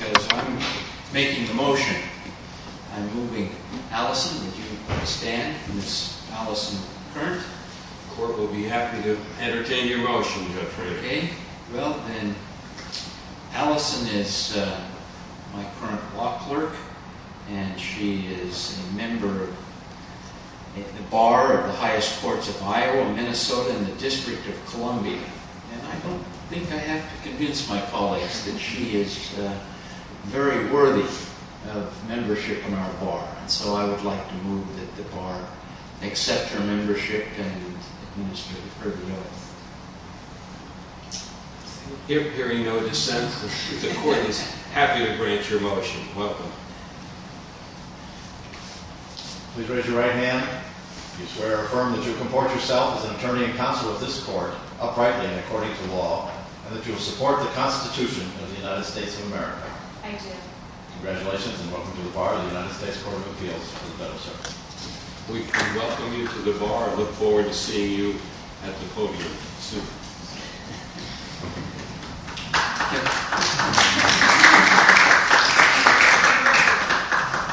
I'm making the motion. I'm moving. Allison, would you stand? Ms. Allison Currant? The Court will be happy to entertain your motion, Judge Frederick. Okay. Well, then, Allison is my current law clerk, and she is a member of the Bar of the Highest Courts of Iowa, Minnesota, and the District of Columbia. And I don't think I have to convince my colleagues that she is very worthy of membership in our bar. And so I would like to move that the bar accept her membership and administer her bill. Hearing no dissent, the Court is happy to grant your motion. Welcome. Please raise your right hand if you swear or affirm that you will comport yourself as an attorney and counsel with this Court uprightly and according to law, and that you will support the Constitution of the United States of America. I do. Congratulations, and welcome to the Bar of the United States Court of Appeals for the better service. We welcome you to the bar and look forward to seeing you at the podium soon. Thank you.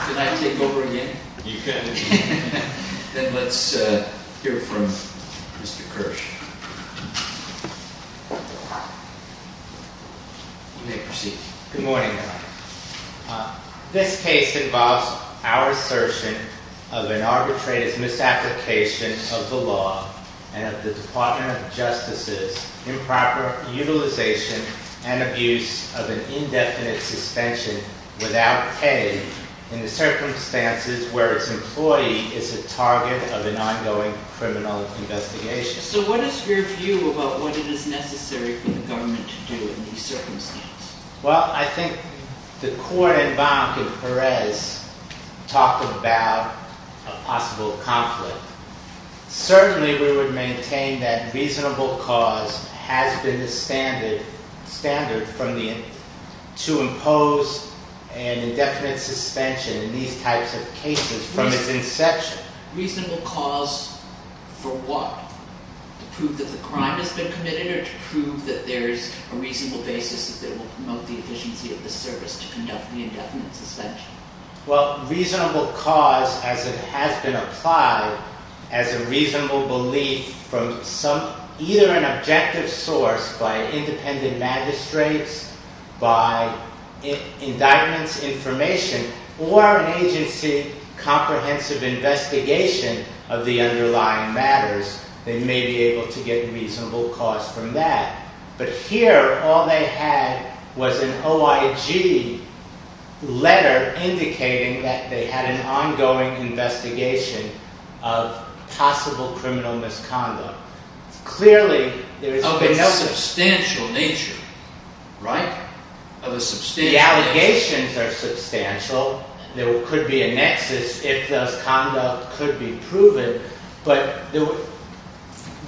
Can I take over again? You can. Then let's hear from Mr. Kirsch. You may proceed. Good morning, Your Honor. This case involves our assertion of an arbitrated misapplication of the law and of the Department of Justice's improper utilization and abuse of an indefinite suspension without pay in the circumstances where its employee is a target of an ongoing criminal investigation. So what is your view about what it is necessary for the government to do in these circumstances? Well, I think the Court and Bank and Perez talked about a possible conflict. Certainly, we would maintain that reasonable cause has been the standard to impose an indefinite suspension in these types of cases from its inception. Reasonable cause for what? To prove that the crime has been committed or to prove that there is a reasonable basis that they will promote the efficiency of the service to conduct the indefinite suspension? Well, reasonable cause, as it has been applied, as a reasonable belief from either an objective source by independent magistrates, by indictments information, or an agency comprehensive investigation of the underlying matters, they may be able to get reasonable cause from that. But here, all they had was an OIG letter indicating that they had an ongoing investigation of possible criminal misconduct. Of a substantial nature. Right. Of a substantial nature. The allegations are substantial. There could be a nexus if this conduct could be proven. What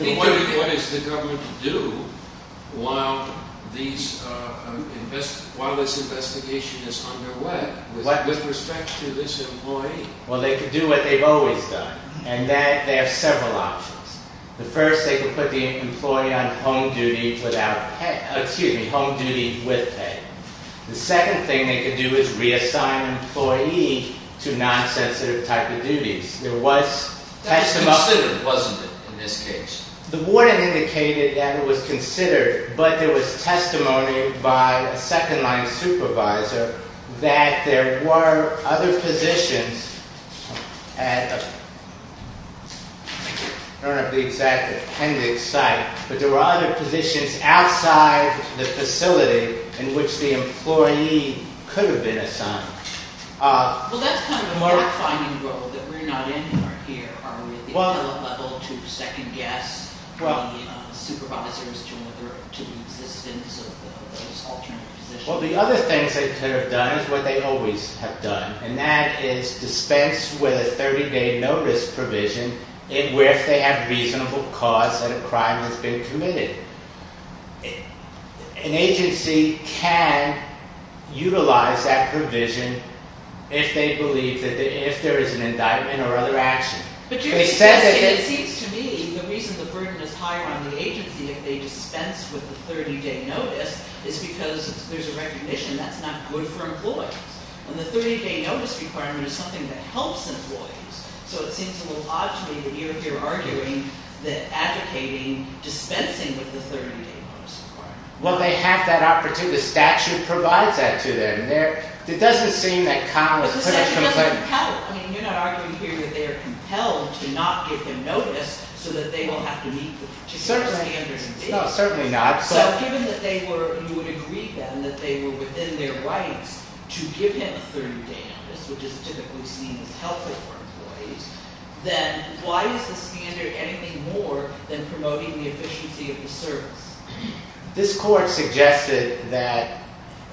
is the government to do while this investigation is underway with respect to this employee? Well, they could do what they've always done. And that, they have several options. The first, they could put the employee on home duty with pay. The second thing they could do is reassign the employee to non-sensitive type of duties. That was considered, wasn't it, in this case? The warning indicated that it was considered, but there was testimony by a second-line supervisor that there were other positions outside the facility in which the employee could have been assigned. Well, that's kind of a mark-finding role that we're not in here. Are we at the appellate level to second-guess the supervisors to the existence of those alternate positions? Well, the other things they could have done is what they always have done. And that is dispense with a 30-day notice provision where if they have reasonable cause that a crime has been committed. An agency can utilize that provision if they believe that if there is an indictment or other action. But you're suggesting, it seems to me, the reason the burden is higher on the agency if they dispense with the 30-day notice is because there's a recognition that's not good for employees. And the 30-day notice requirement is something that helps employees. So it seems a little odd to me that you're here arguing that advocating dispensing with the 30-day notice requirement. Well, they have that opportunity. The statute provides that to them. It doesn't seem that Conn was quite as complainant. But the statute doesn't compel. I mean, you're not arguing here that they are compelled to not give him notice so that they won't have to meet the standards. No, certainly not. So given that you would agree then that they were within their rights to give him a 30-day notice, which is typically seen as healthy for employees, then why is the standard anything more than promoting the efficiency of the service? This court suggested that,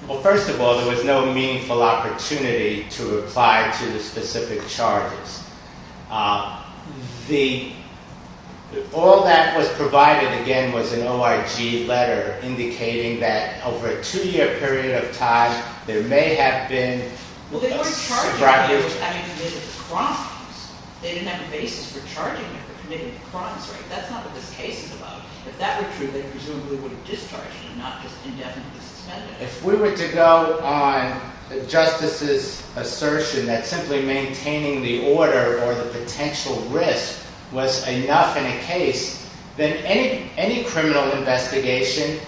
well, first of all, there was no meaningful opportunity to apply to the specific charges. All that was provided, again, was an OIG letter indicating that over a two-year period of time, there may have been a surprise. Well, they weren't charging him for having committed crimes. They didn't have a basis for charging him for committing crimes, right? That's not what this case is about. If that were true, they presumably would have discharged him and not just indefinitely suspended him. If we were to go on the justices' assertion that simply maintaining the order or the potential risk was enough in a case, then any criminal investigation,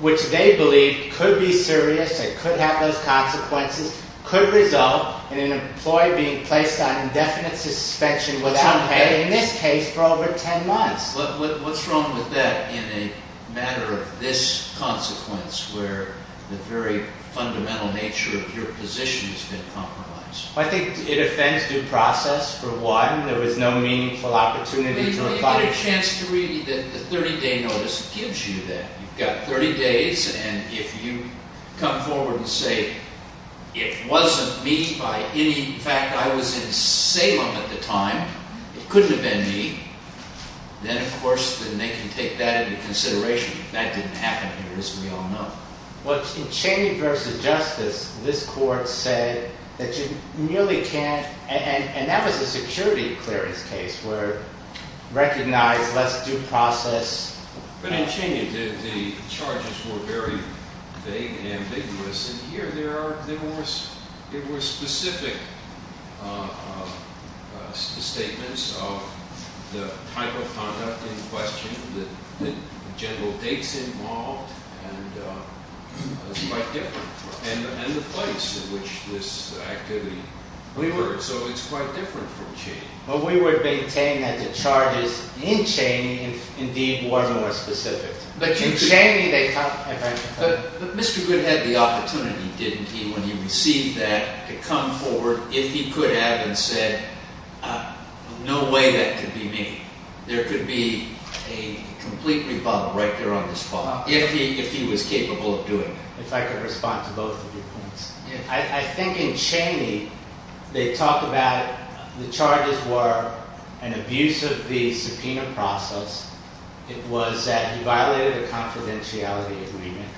which they believe could be serious and could have those consequences, could result in an employee being placed on indefinite suspension without pay in this case for over 10 months. What's wrong with that in a matter of this consequence where the very fundamental nature of your position has been compromised? I think it offends due process for one. There was no meaningful opportunity to apply. You've got a chance to read the 30-day notice. It gives you that. You've got 30 days, and if you come forward and say, it wasn't me by any fact. I was in Salem at the time. It couldn't have been me. Then, of course, then they can take that into consideration. If that didn't happen, it is we all know. Well, in Cheney v. Justice, this court said that you nearly can't. And that was a security clearance case where recognized less due process. But in Cheney, the charges were very vague and ambiguous. And here, there were specific statements of the type of conduct in question, the general dates involved. And it's quite different. And the place in which this activity occurred. So it's quite different from Cheney. Well, we would maintain that the charges in Cheney indeed were more specific. But in Cheney, they can't. But Mr. Goode had the opportunity, didn't he? When he received that, to come forward if he could have and said, no way that could be me. There could be a complete rebuttal right there on this floor if he was capable of doing it. If I could respond to both of your points. I think in Cheney, they talk about the charges were an abuse of the subpoena process. It was that he violated a confidentiality agreement,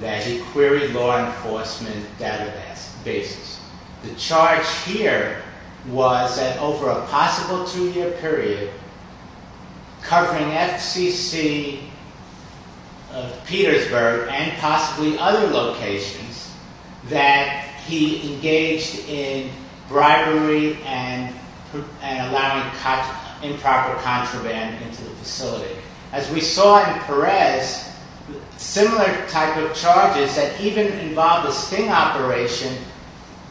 that he queried law enforcement databases. The charge here was that over a possible two-year period, covering FCC, Petersburg, and possibly other locations, that he engaged in bribery and allowing improper contraband into the facility. As we saw in Perez, similar type of charges that even involved a sting operation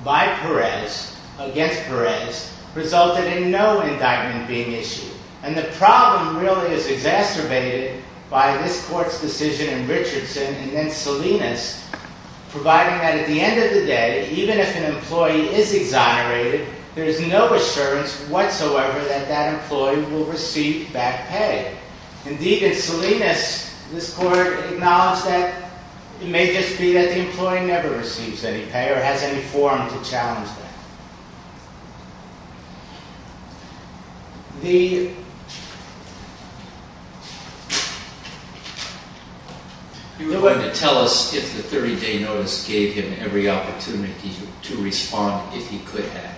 by Perez, against Perez, resulted in no indictment being issued. And the problem really is exacerbated by this court's decision in Richardson and then Salinas, providing that at the end of the day, even if an employee is exonerated, there is no assurance whatsoever that that employee will receive back pay. Indeed, in Salinas, this court acknowledged that it may just be that the employee never receives any pay or has any forum to challenge that. You were going to tell us if the 30-day notice gave him every opportunity to respond, if he could have.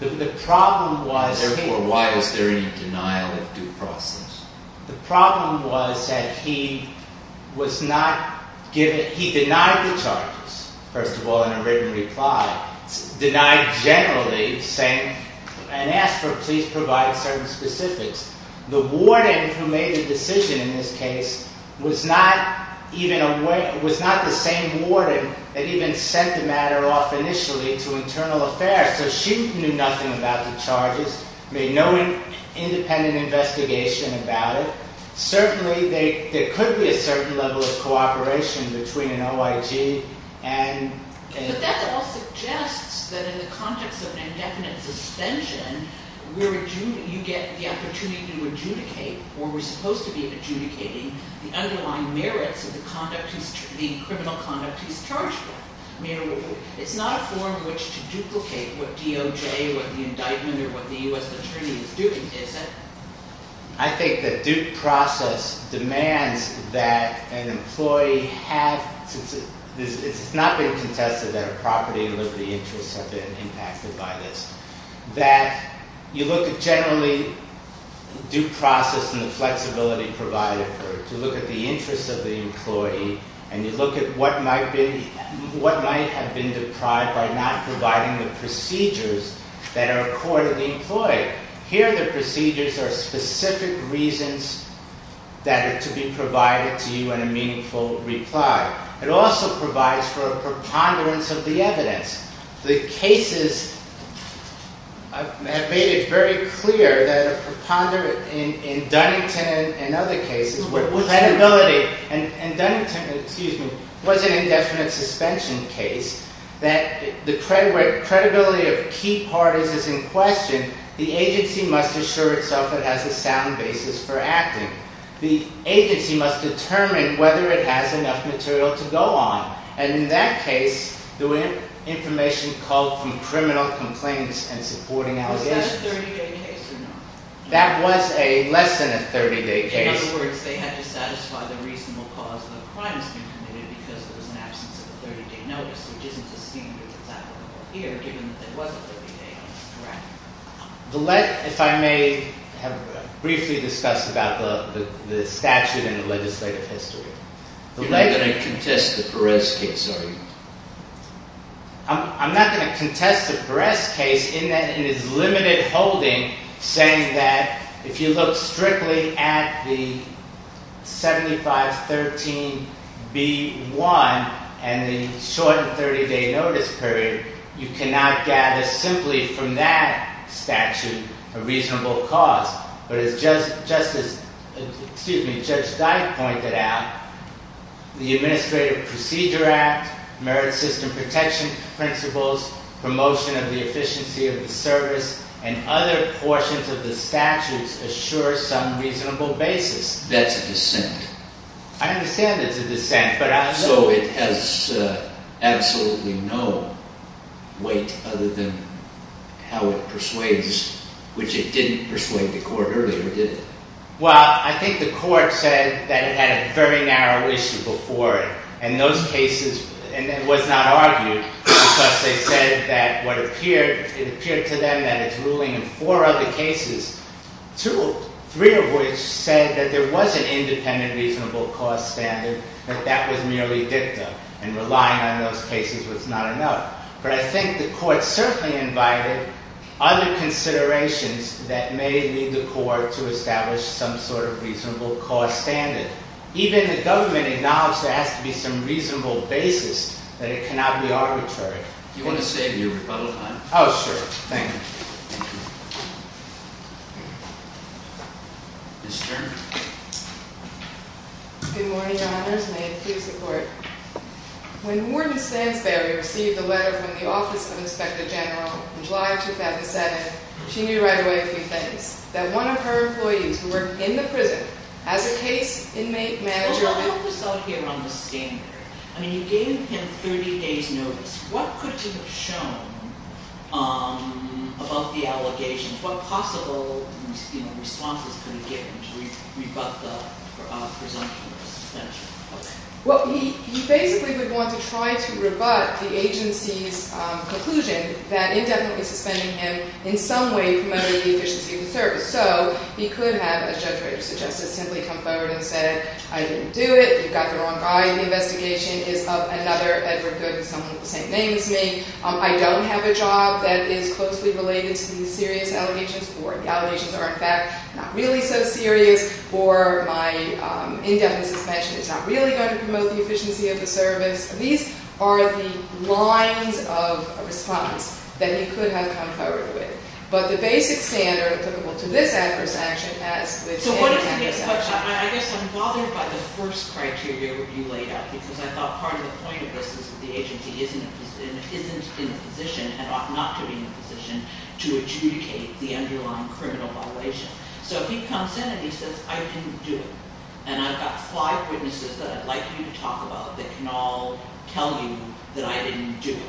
The problem was that he denied the charges, first of all, in a written reply. Denied generally, saying, and asked for, please provide certain specifics. The warden who made the decision in this case was not the same warden that even sent the matter off initially to Internal Affairs. So she knew nothing about the charges, made no independent investigation about it. Certainly, there could be a certain level of cooperation between an OIG and… But that all suggests that in the context of an indefinite suspension, you get the opportunity to adjudicate, or were supposed to be adjudicating, the underlying merits of the criminal conduct he's charged with. It's not a form in which to duplicate what DOJ, what the indictment, or what the U.S. Attorney is doing, is it? I think that due process demands that an employee have… It's not been contested that a property and liberty interest have been impacted by this. That you look at generally due process and the flexibility provided for it, to look at the interest of the employee, and you look at what might have been deprived by not providing the procedures that are accorded to the employee. Here, the procedures are specific reasons that are to be provided to you in a meaningful reply. It also provides for a preponderance of the evidence. The cases have made it very clear that a preponderance… In Dunnington and other cases, where credibility… And Dunnington, excuse me, was an indefinite suspension case, that the credibility of key parties is in question, the agency must assure itself it has a sound basis for acting. The agency must determine whether it has enough material to go on. And in that case, the information called from criminal complaints and supporting allegations… Was that a 30-day case or not? That was less than a 30-day case. In other words, they had to satisfy the reasonable cause of the crimes being committed because there was an absence of a 30-day notice, which isn't the standard that's applicable here, given that there was a 30-day case. Correct. If I may briefly discuss about the statute and the legislative history. You're not going to contest the Perez case, are you? I'm not going to contest the Perez case in that it is limited holding, saying that if you look strictly at the 7513B1 and the short 30-day notice period, you cannot gather simply from that statute a reasonable cause. But as Judge Dyke pointed out, the Administrative Procedure Act, merit system protection principles, promotion of the efficiency of the service, and other portions of the statutes assure some reasonable basis. That's a dissent. I understand it's a dissent. So it has absolutely no weight other than how it persuades, which it didn't persuade the court earlier, did it? Well, I think the court said that it had a very narrow issue before it. And it was not argued, because it appeared to them that it's ruling in four other cases, three of which said that there was an independent reasonable cause standard, but that was merely dicta, and relying on those cases was not enough. But I think the court certainly invited other considerations that may lead the court to establish some sort of reasonable cause standard. Even the government acknowledged there has to be some reasonable basis, that it cannot be arbitrary. Do you want to save your rebuttal time? Oh, sure. Thank you. Ms. Stern. Good morning, Your Honors. May it please the Court. When Warden Stansberry received a letter from the Office of Inspector General in July 2007, she knew right away a few things. That one of her employees who worked in the prison as a case inmate manager… Well, let me put this out here on the standard. I mean, you gave him 30 days' notice. What could you have shown above the allegations? What possible responses could you give him to rebut the presumption of suspension? Well, he basically would want to try to rebut the agency's conclusion that indefinitely suspending him in some way promoted the efficiency of the service. So he could have, as Judge Rader suggested, simply come forward and say, I didn't do it. You've got the wrong guy. The investigation is of another Edward Goode, someone with the same name as me. I don't have a job that is closely related to these serious allegations, or the allegations are, in fact, not really so serious, or my indefinitely suspension is not really going to promote the efficiency of the service. These are the lines of response that he could have come forward with. But the basic standard applicable to this adverse action has… So what is the next question? I guess I'm bothered by the first criteria that you laid out, because I thought part of the point of this is that the agency isn't in a position and ought not to be in a position to adjudicate the underlying criminal violation. So if he comes in and he says, I didn't do it, and I've got five witnesses that I'd like you to talk about that can all tell you that I didn't do it,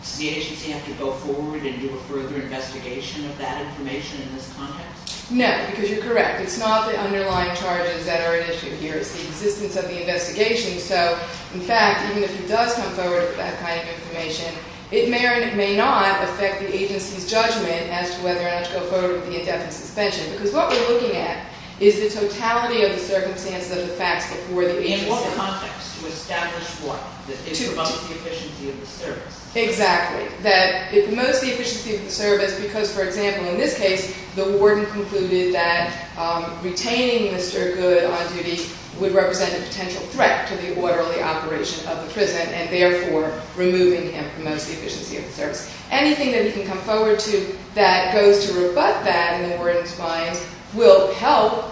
does the agency have to go forward and do a further investigation of that information in this context? No, because you're correct. It's not the underlying charges that are at issue here. It's the existence of the investigation. So, in fact, even if he does come forward with that kind of information, it may or may not affect the agency's judgment as to whether or not to go forward with the indefinitely suspension, because what we're looking at is the totality of the circumstances of the facts before the agency… In what context to establish what? To… It promotes the efficiency of the service. Exactly. That it promotes the efficiency of the service because, for example, in this case, the warden concluded that retaining Mr. Good on duty would represent a potential threat to the orderly operation of the prison, and therefore removing him promotes the efficiency of the service. Anything that he can come forward to that goes to rebut that in the warden's mind will help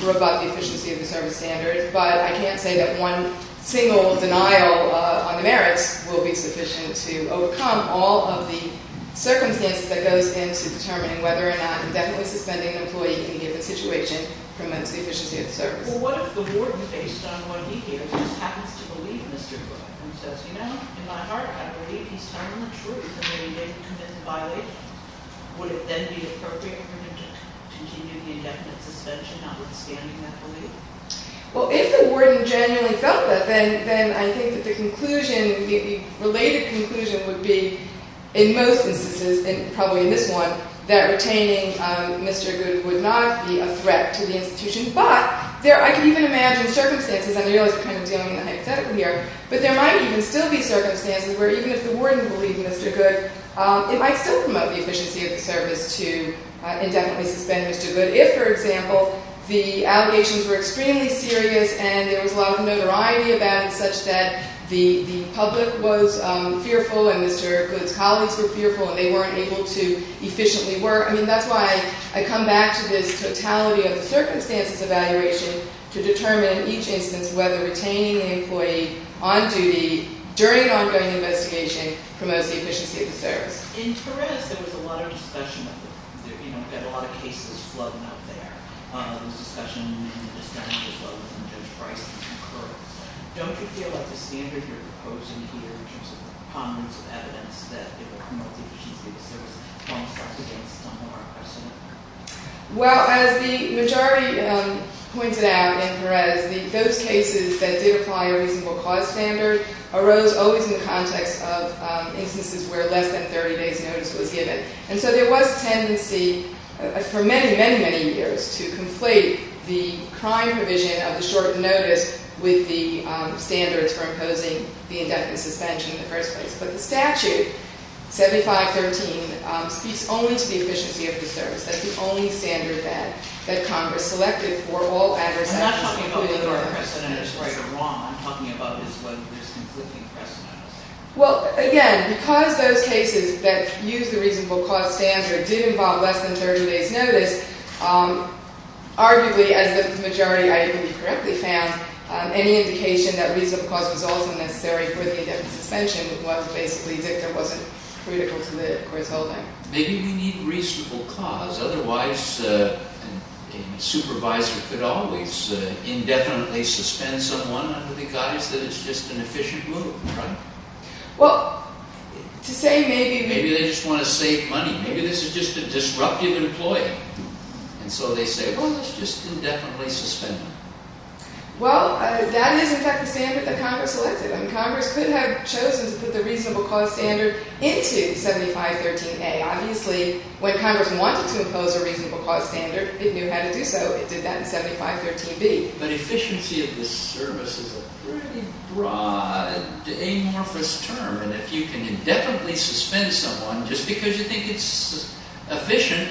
rebut the efficiency of the service standard, but I can't say that one single denial on the merits will be sufficient to overcome all of the circumstances that goes into determining whether or not indefinitely suspending an employee in a given situation promotes the efficiency of the service. Well, what if the warden, based on what he hears, just happens to believe Mr. Good, and says, you know, in my heart, I believe he's telling the truth, and then he didn't commit the violation? Would it then be appropriate for him to continue the indefinite suspension, notwithstanding that belief? Well, if the warden genuinely felt that, then I think that the conclusion, the related conclusion would be, in most instances, and probably in this one, that retaining Mr. Good would not be a threat to the institution, but there are, I can even imagine, circumstances, and I realize we're kind of dealing with a hypothetical here, but there might even still be circumstances where even if the warden believed Mr. Good, it might still promote the efficiency of the service to indefinitely suspend Mr. Good, if, for example, the allegations were extremely serious, and there was a lot of notoriety about it, such that the public was fearful, and Mr. Good's colleagues were fearful, and they weren't able to efficiently work. I mean, that's why I come back to this totality of the circumstances evaluation to determine, in each instance, whether retaining the employee on duty during an ongoing investigation promotes the efficiency of the service. In Perez, there was a lot of discussion of the, you know, you had a lot of cases floating out there, and there was discussion in the district as well as in Judge Price and in Kerr. Don't you feel like the standard you're proposing here, in terms of the ponderance of evidence that it would promote the efficiency of the service, falls back against some of our precedent work? Well, as the majority pointed out in Perez, those cases that did apply a reasonable cause standard arose always in the context of instances where less than 30 days' notice was given. And so there was a tendency for many, many, many years to conflate the crime provision of the short notice with the standards for imposing the indefinite suspension in the first place. But the statute, 7513, speaks only to the efficiency of the service. That's the only standard that Congress selected for all adversaries. I'm not talking about whether our precedent is right or wrong. What I'm talking about is whether there's conflicting precedent. Well, again, because those cases that used the reasonable cause standard did involve less than 30 days' notice, arguably, as the majority, I believe, correctly found, any indication that reasonable cause was also necessary for the indefinite suspension was basically that there wasn't critical to the court's holding. Maybe we need reasonable cause. Otherwise, a supervisor could always indefinitely suspend someone under the guise that it's just an efficient move, right? Well, to say maybe... Maybe they just want to save money. Maybe this is just a disruptive employee. And so they say, well, let's just indefinitely suspend them. Well, that is, in fact, the standard that Congress selected. And Congress could have chosen to put the reasonable cause standard into 7513A. Obviously, when Congress wanted to impose a reasonable cause standard, it knew how to do so. It did that in 7513B. But efficiency of the service is a pretty broad, amorphous term. And if you can indefinitely suspend someone just because you think it's efficient,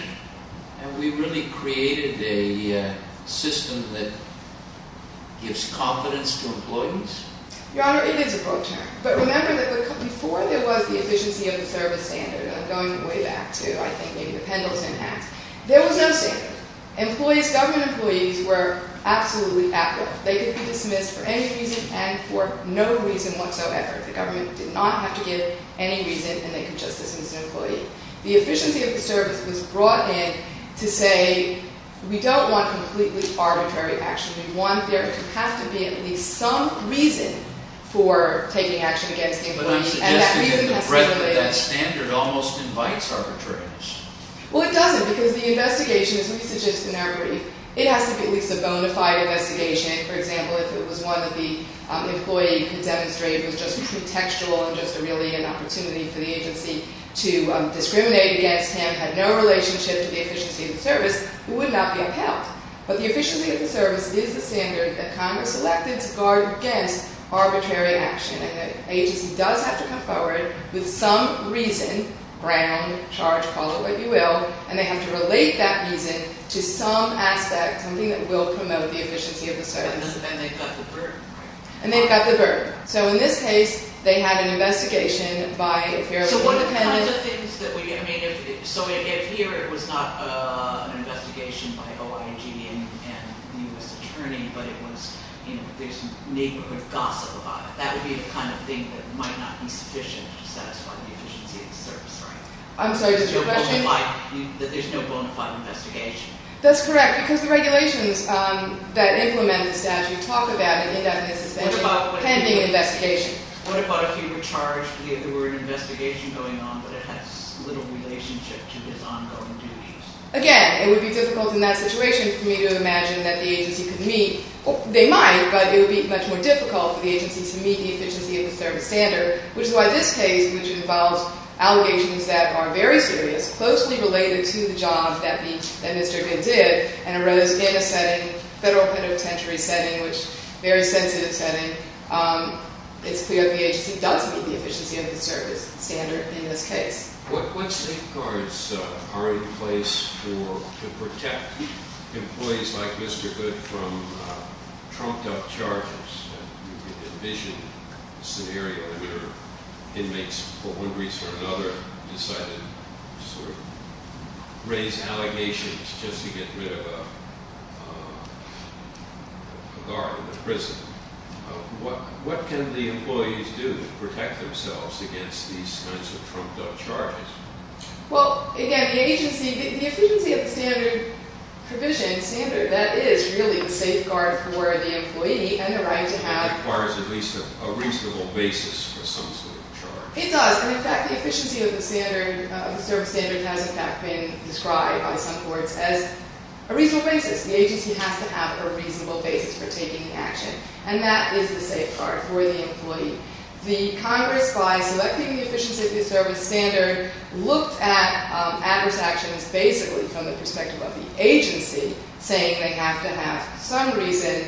have we really created a system that gives confidence to employees? Your Honor, it is a broad term. But remember that before there was the efficiency of the service standard, and I'm going way back to, I think, maybe the Pendleton Act, there was no standard. Employees, government employees, were absolutely active. They could be dismissed for any reason and for no reason whatsoever. The government did not have to give any reason, and they could just dismiss an employee. The efficiency of the service was brought in to say, we don't want completely arbitrary action. We want there to have to be at least some reason for taking action against the employee. But I'm suggesting that the breadth of that standard almost invites arbitrariness. Well, it doesn't, because the investigation, as we suggest in our brief, it has to be at least a bona fide investigation. For example, if it was one that the employee demonstrated was just pretextual and just really an opportunity for the agency to discriminate against him, had no relationship to the efficiency of the service, it would not be upheld. But the efficiency of the service is the standard that Congress elected to guard against arbitrary action, and the agency does have to come forward with some reason, ground, charge, call it what you will, and they have to relate that reason to some aspect, something that will promote the efficiency of the service. And then they've got the burden, right? And they've got the burden. So in this case, they had an investigation by a fairly independent... So if here it was not an investigation by OIG and the U.S. Attorney, but it was, you know, there's some neighborhood gossip about it, that would be the kind of thing that might not be sufficient to satisfy the efficiency of the service, right? I'm sorry, did your question... That there's no bona fide investigation. That's correct, because the regulations that implement the statute talk about an indefinite suspension pending an investigation. What about if you were charged, there were an investigation going on, but it has little relationship to these ongoing duties? Again, it would be difficult in that situation for me to imagine that the agency could meet... They might, but it would be much more difficult for the agency to meet the efficiency of the service standard, which is why this case, which involves allegations that are very serious, closely related to the job that Mr. Gidd did, and arose in a setting, federal penitentiary setting, which is a very sensitive setting, it's clear the agency does meet the efficiency of the service standard in this case. What safeguards are in place to protect employees like Mr. Gidd from trumped-up charges? You can envision a scenario where inmates for one reason or another decided to sort of raise allegations just to get rid of a guard in the prison. What can the employees do to protect themselves against these kinds of trumped-up charges? Well, again, the agency... The efficiency of the standard provision, standard, that is really the safeguard for the employee and the right to have... It requires at least a reasonable basis for some sort of charge. It does, and in fact, the efficiency of the standard, the service standard has in fact been described by some courts as a reasonable basis. The agency has to have a reasonable basis for taking the action, and that is the safeguard for the employee. The Congress, by selecting the efficiency of the service standard, looked at adverse actions basically from the perspective of the agency, saying they have to have some reason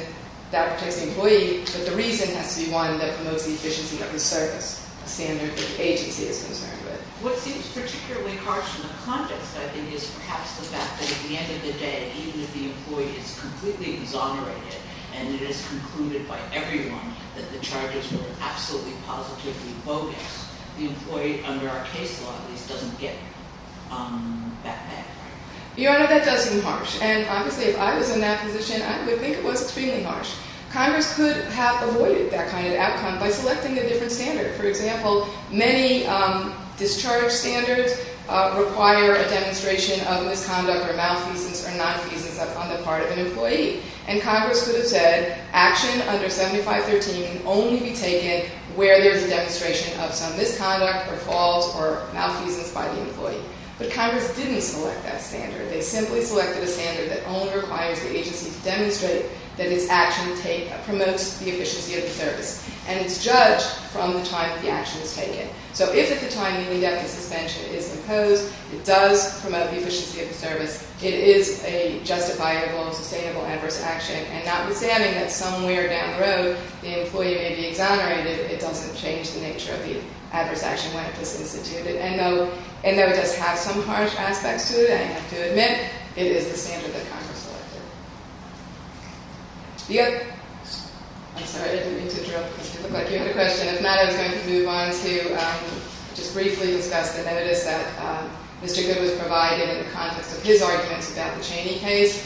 that protects the employee, but the reason has to be one that promotes the efficiency of the service standard that the agency is concerned with. What seems particularly harsh in the context, I think, is perhaps the fact that at the end of the day, even if the employee is completely exonerated and it is concluded by everyone that the charges were absolutely positively bogus, the employee, under our case law at least, doesn't get that bad. Your Honor, that does seem harsh, and obviously if I was in that position, I would think it was extremely harsh. Congress could have avoided that kind of outcome by selecting a different standard. For example, many discharge standards require a demonstration of misconduct or malfeasance or nonfeasance on the part of an employee, and Congress could have said, action under 7513 can only be taken where there is a demonstration of some misconduct or fault or malfeasance by the employee. But Congress didn't select that standard. They simply selected a standard that only requires the agency to demonstrate that its action promotes the efficiency of the service, and it's judged from the time that the action is taken. So if at the time you need that, the suspension is imposed, it does promote the efficiency of the service, it is a justifiable and sustainable adverse action, and notwithstanding that somewhere down the road the employee may be exonerated, it doesn't change the nature of the adverse action when it is instituted. And though it does have some harsh aspects to it, I have to admit, it is the standard that Congress selected. The other... I'm sorry, I didn't mean to interrupt. It looked like you had a question. If not, I was going to move on to just briefly discuss the notice that Mr. Goode was provided in the context of his arguments about the Cheney case.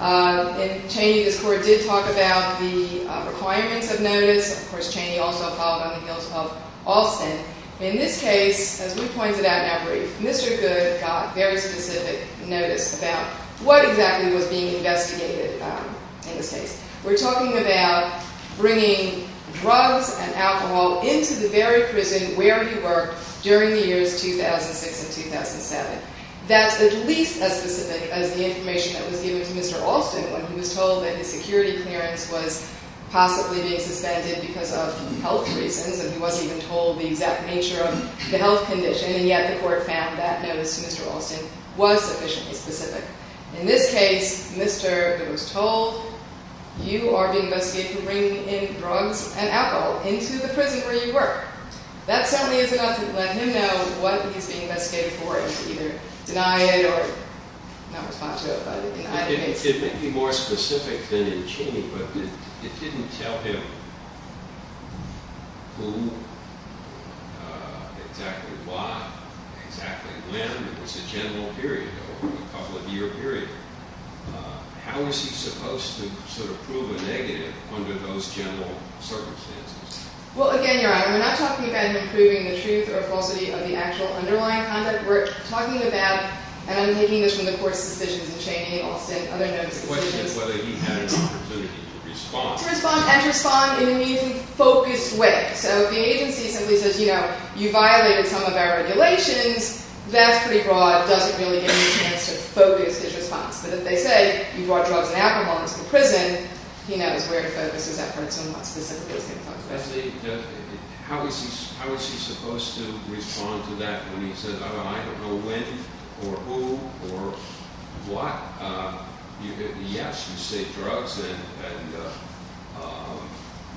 In Cheney, this Court did talk about the requirements of notice. Of course, Cheney also followed on the heels of Alston. In this case, as we pointed out in our brief, Mr. Goode got very specific notice about what exactly was being investigated in this case. We're talking about bringing drugs and alcohol into the very prison where he worked during the years 2006 and 2007. That's at least as specific as the information that was given to Mr. Alston when he was told that his security clearance was possibly being suspended because of health reasons, and he wasn't even told the exact nature of the health condition, and yet the Court found that notice to Mr. Alston was sufficiently specific. In this case, Mr. Goode was told, you are being investigated for bringing in drugs and alcohol into the prison where you work. That certainly is enough to let him know what he's being investigated for, and to either deny it or not respond to it. It may be more specific than in Cheney, but it didn't tell him who, exactly why, exactly when. It was a general period, a couple-of-year period. How is he supposed to prove a negative under those general circumstances? Well, again, Your Honor, we're not talking about him proving the truth or falsity of the actual underlying content. We're talking about, and I'm taking this from the Court's suspicions in Cheney, Alston, other notices. The question is whether he had an opportunity to respond. To respond and respond in an even focused way. So if the agency simply says, you know, you violated some of our regulations, that's pretty broad, doesn't really give you a chance to focus his response. But if they say, you brought drugs and alcohol into the prison, he knows where to focus his efforts and what specifically he's going to talk about. How is he supposed to respond to that when he says, I don't know when or who or what? Yes, you say drugs and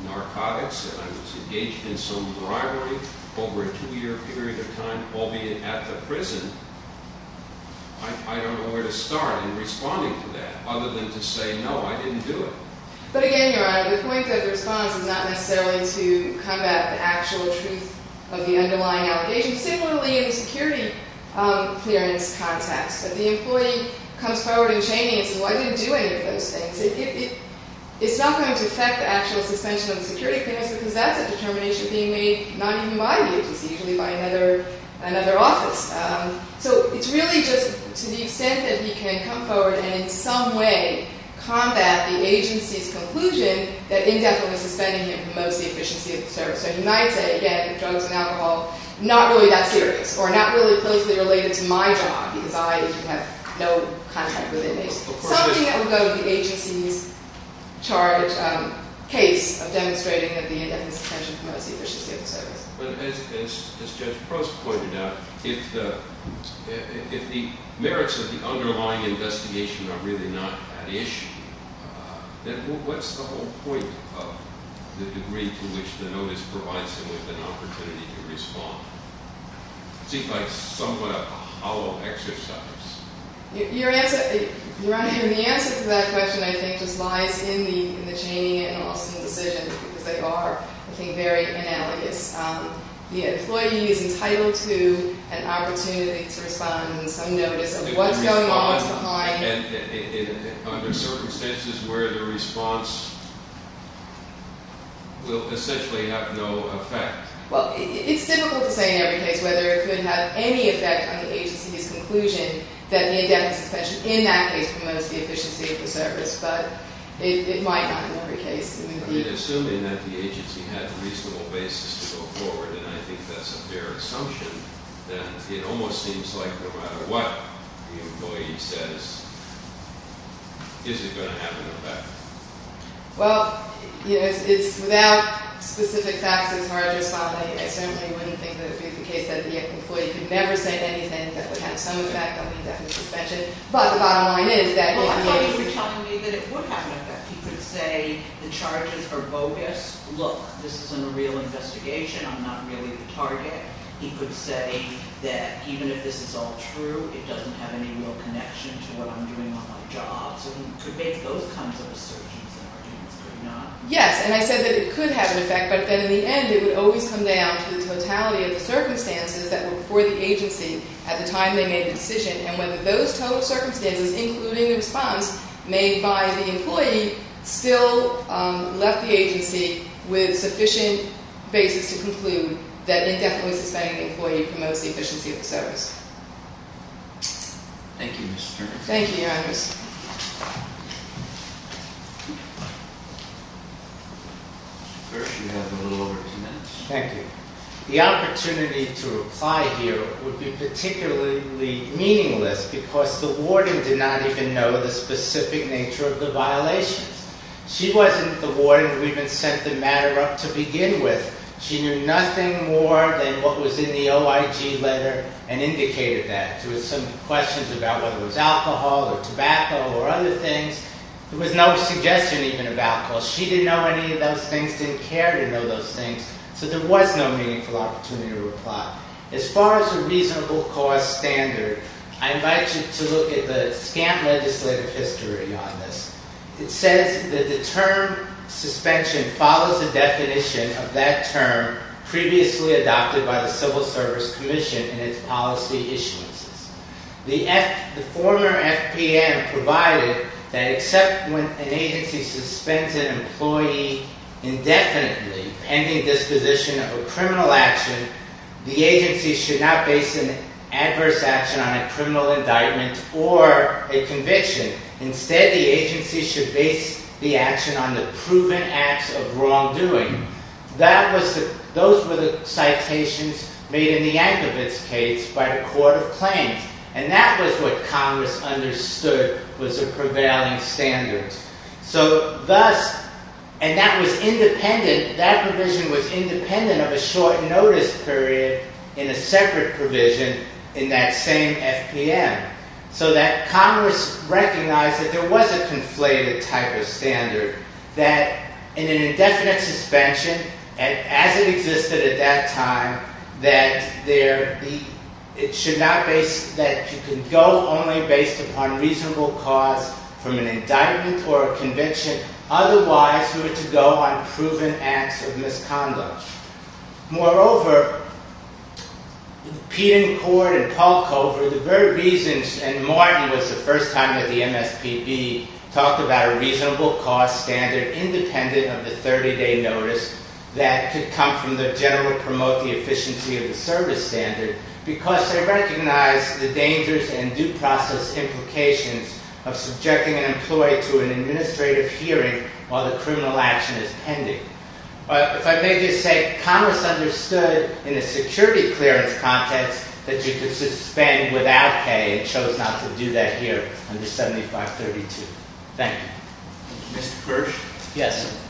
narcotics, and I was engaged in some rivalry over a two-year period of time, albeit at the prison. I don't know where to start in responding to that other than to say, no, I didn't do it. But again, Your Honor, the point of the response is not necessarily to combat the actual truth of the underlying allegations. Similarly, in the security clearance context, if the employee comes forward in Cheney and says, well, I didn't do any of those things, it's not going to affect the actual suspension of the security clearance because that's a determination being made not even by the agency, usually by another office. So it's really just to the extent that he can come forward and in some way combat the agency's conclusion that indefinitely suspending him promotes the efficiency of the service. So he might say, again, drugs and alcohol, not really that serious or not really closely related to my job because I have no contact with inmates. Something that would go with the agency's charge, case of demonstrating that the indefinitely suspension promotes the efficiency of the service. But as Judge Prost pointed out, if the merits of the underlying investigation are really not an issue, then what's the whole point of the degree to which the notice provides someone with an opportunity to respond? It seems like somewhat of a hollow exercise. Your answer, Your Honor, and the answer to that question, I think, just lies in the Cheney and Austin decisions because they are, I think, very analogous. The employee is entitled to an opportunity to respond and some notice of what's going on, what's behind. And under circumstances where the response will essentially have no effect. Well, it's difficult to say in every case whether it could have any effect on the agency's conclusion that the indefinitely suspension in that case promotes the efficiency of the service. But it might not in every case. Assuming that the agency had a reasonable basis to go forward, and I think that's a fair assumption, then it almost seems like no matter what the employee says, is it going to have an effect? Well, it's without specific facts, it's hard to respond. I certainly wouldn't think that it would be the case that the employee could never say anything that would have some effect on the indefinite suspension. But the bottom line is that the agency Well, I thought you were telling me that it would have an effect. He could say the charges are bogus. Look, this isn't a real investigation. I'm not really the target. He could say that even if this is all true, it doesn't have any real connection to what I'm doing on my job. So he could make both kinds of assertions in arguments, could he not? Yes, and I said that it could have an effect. But then in the end, it would always come down to the totality of the circumstances that were before the agency at the time they made the decision. And whether those total circumstances, including the response made by the employee, still left the agency with sufficient basis to conclude that an indefinitely suspended employee promotes the efficiency of the service. Thank you, Ms. Turner. Thank you, Your Honor. First, you have a little over two minutes. Thank you. The opportunity to reply here would be particularly meaningless because the warning did not even know the specific nature of the violations. She wasn't the warden who even sent the matter up to begin with. She knew nothing more than what was in the OIG letter and indicated that. There were some questions about whether it was alcohol or tobacco or other things. There was no suggestion even of alcohol. She didn't know any of those things, didn't care to know those things. So there was no meaningful opportunity to reply. As far as a reasonable cause standard, I invite you to look at the SCAM legislative history on this. It says that the term suspension follows the definition of that term previously adopted by the Civil Service Commission in its policy issuances. The former FPM provided that except when an agency suspends an employee indefinitely pending disposition of a criminal action, the agency should not base an adverse action on a criminal indictment or a conviction. Instead, the agency should base the action on the proven acts of wrongdoing. Those were the citations made in the Anchovitz case by the Court of Claims. And that was what Congress understood was a prevailing standard. And that provision was independent of a short notice period in a separate provision in that same FPM. So that Congress recognized that there was a conflated type of standard, that in an indefinite suspension, as it existed at that time, that you can go only based upon reasonable cause from an indictment or a conviction. Otherwise, you were to go on proven acts of misconduct. Moreover, Peten, Cord, and Polko, for the very reasons that Martin was the first time at the MSPB, talked about a reasonable cause standard independent of the 30-day notice that could come from the general promote the efficiency of the service standard because they recognized the dangers and due process implications of subjecting an employee to an administrative hearing while the criminal action is pending. If I may just say, Congress understood in the security clearance context that you could suspend without pay and chose not to do that here under 7532. Thank you. Mr. Kirsch? Yes.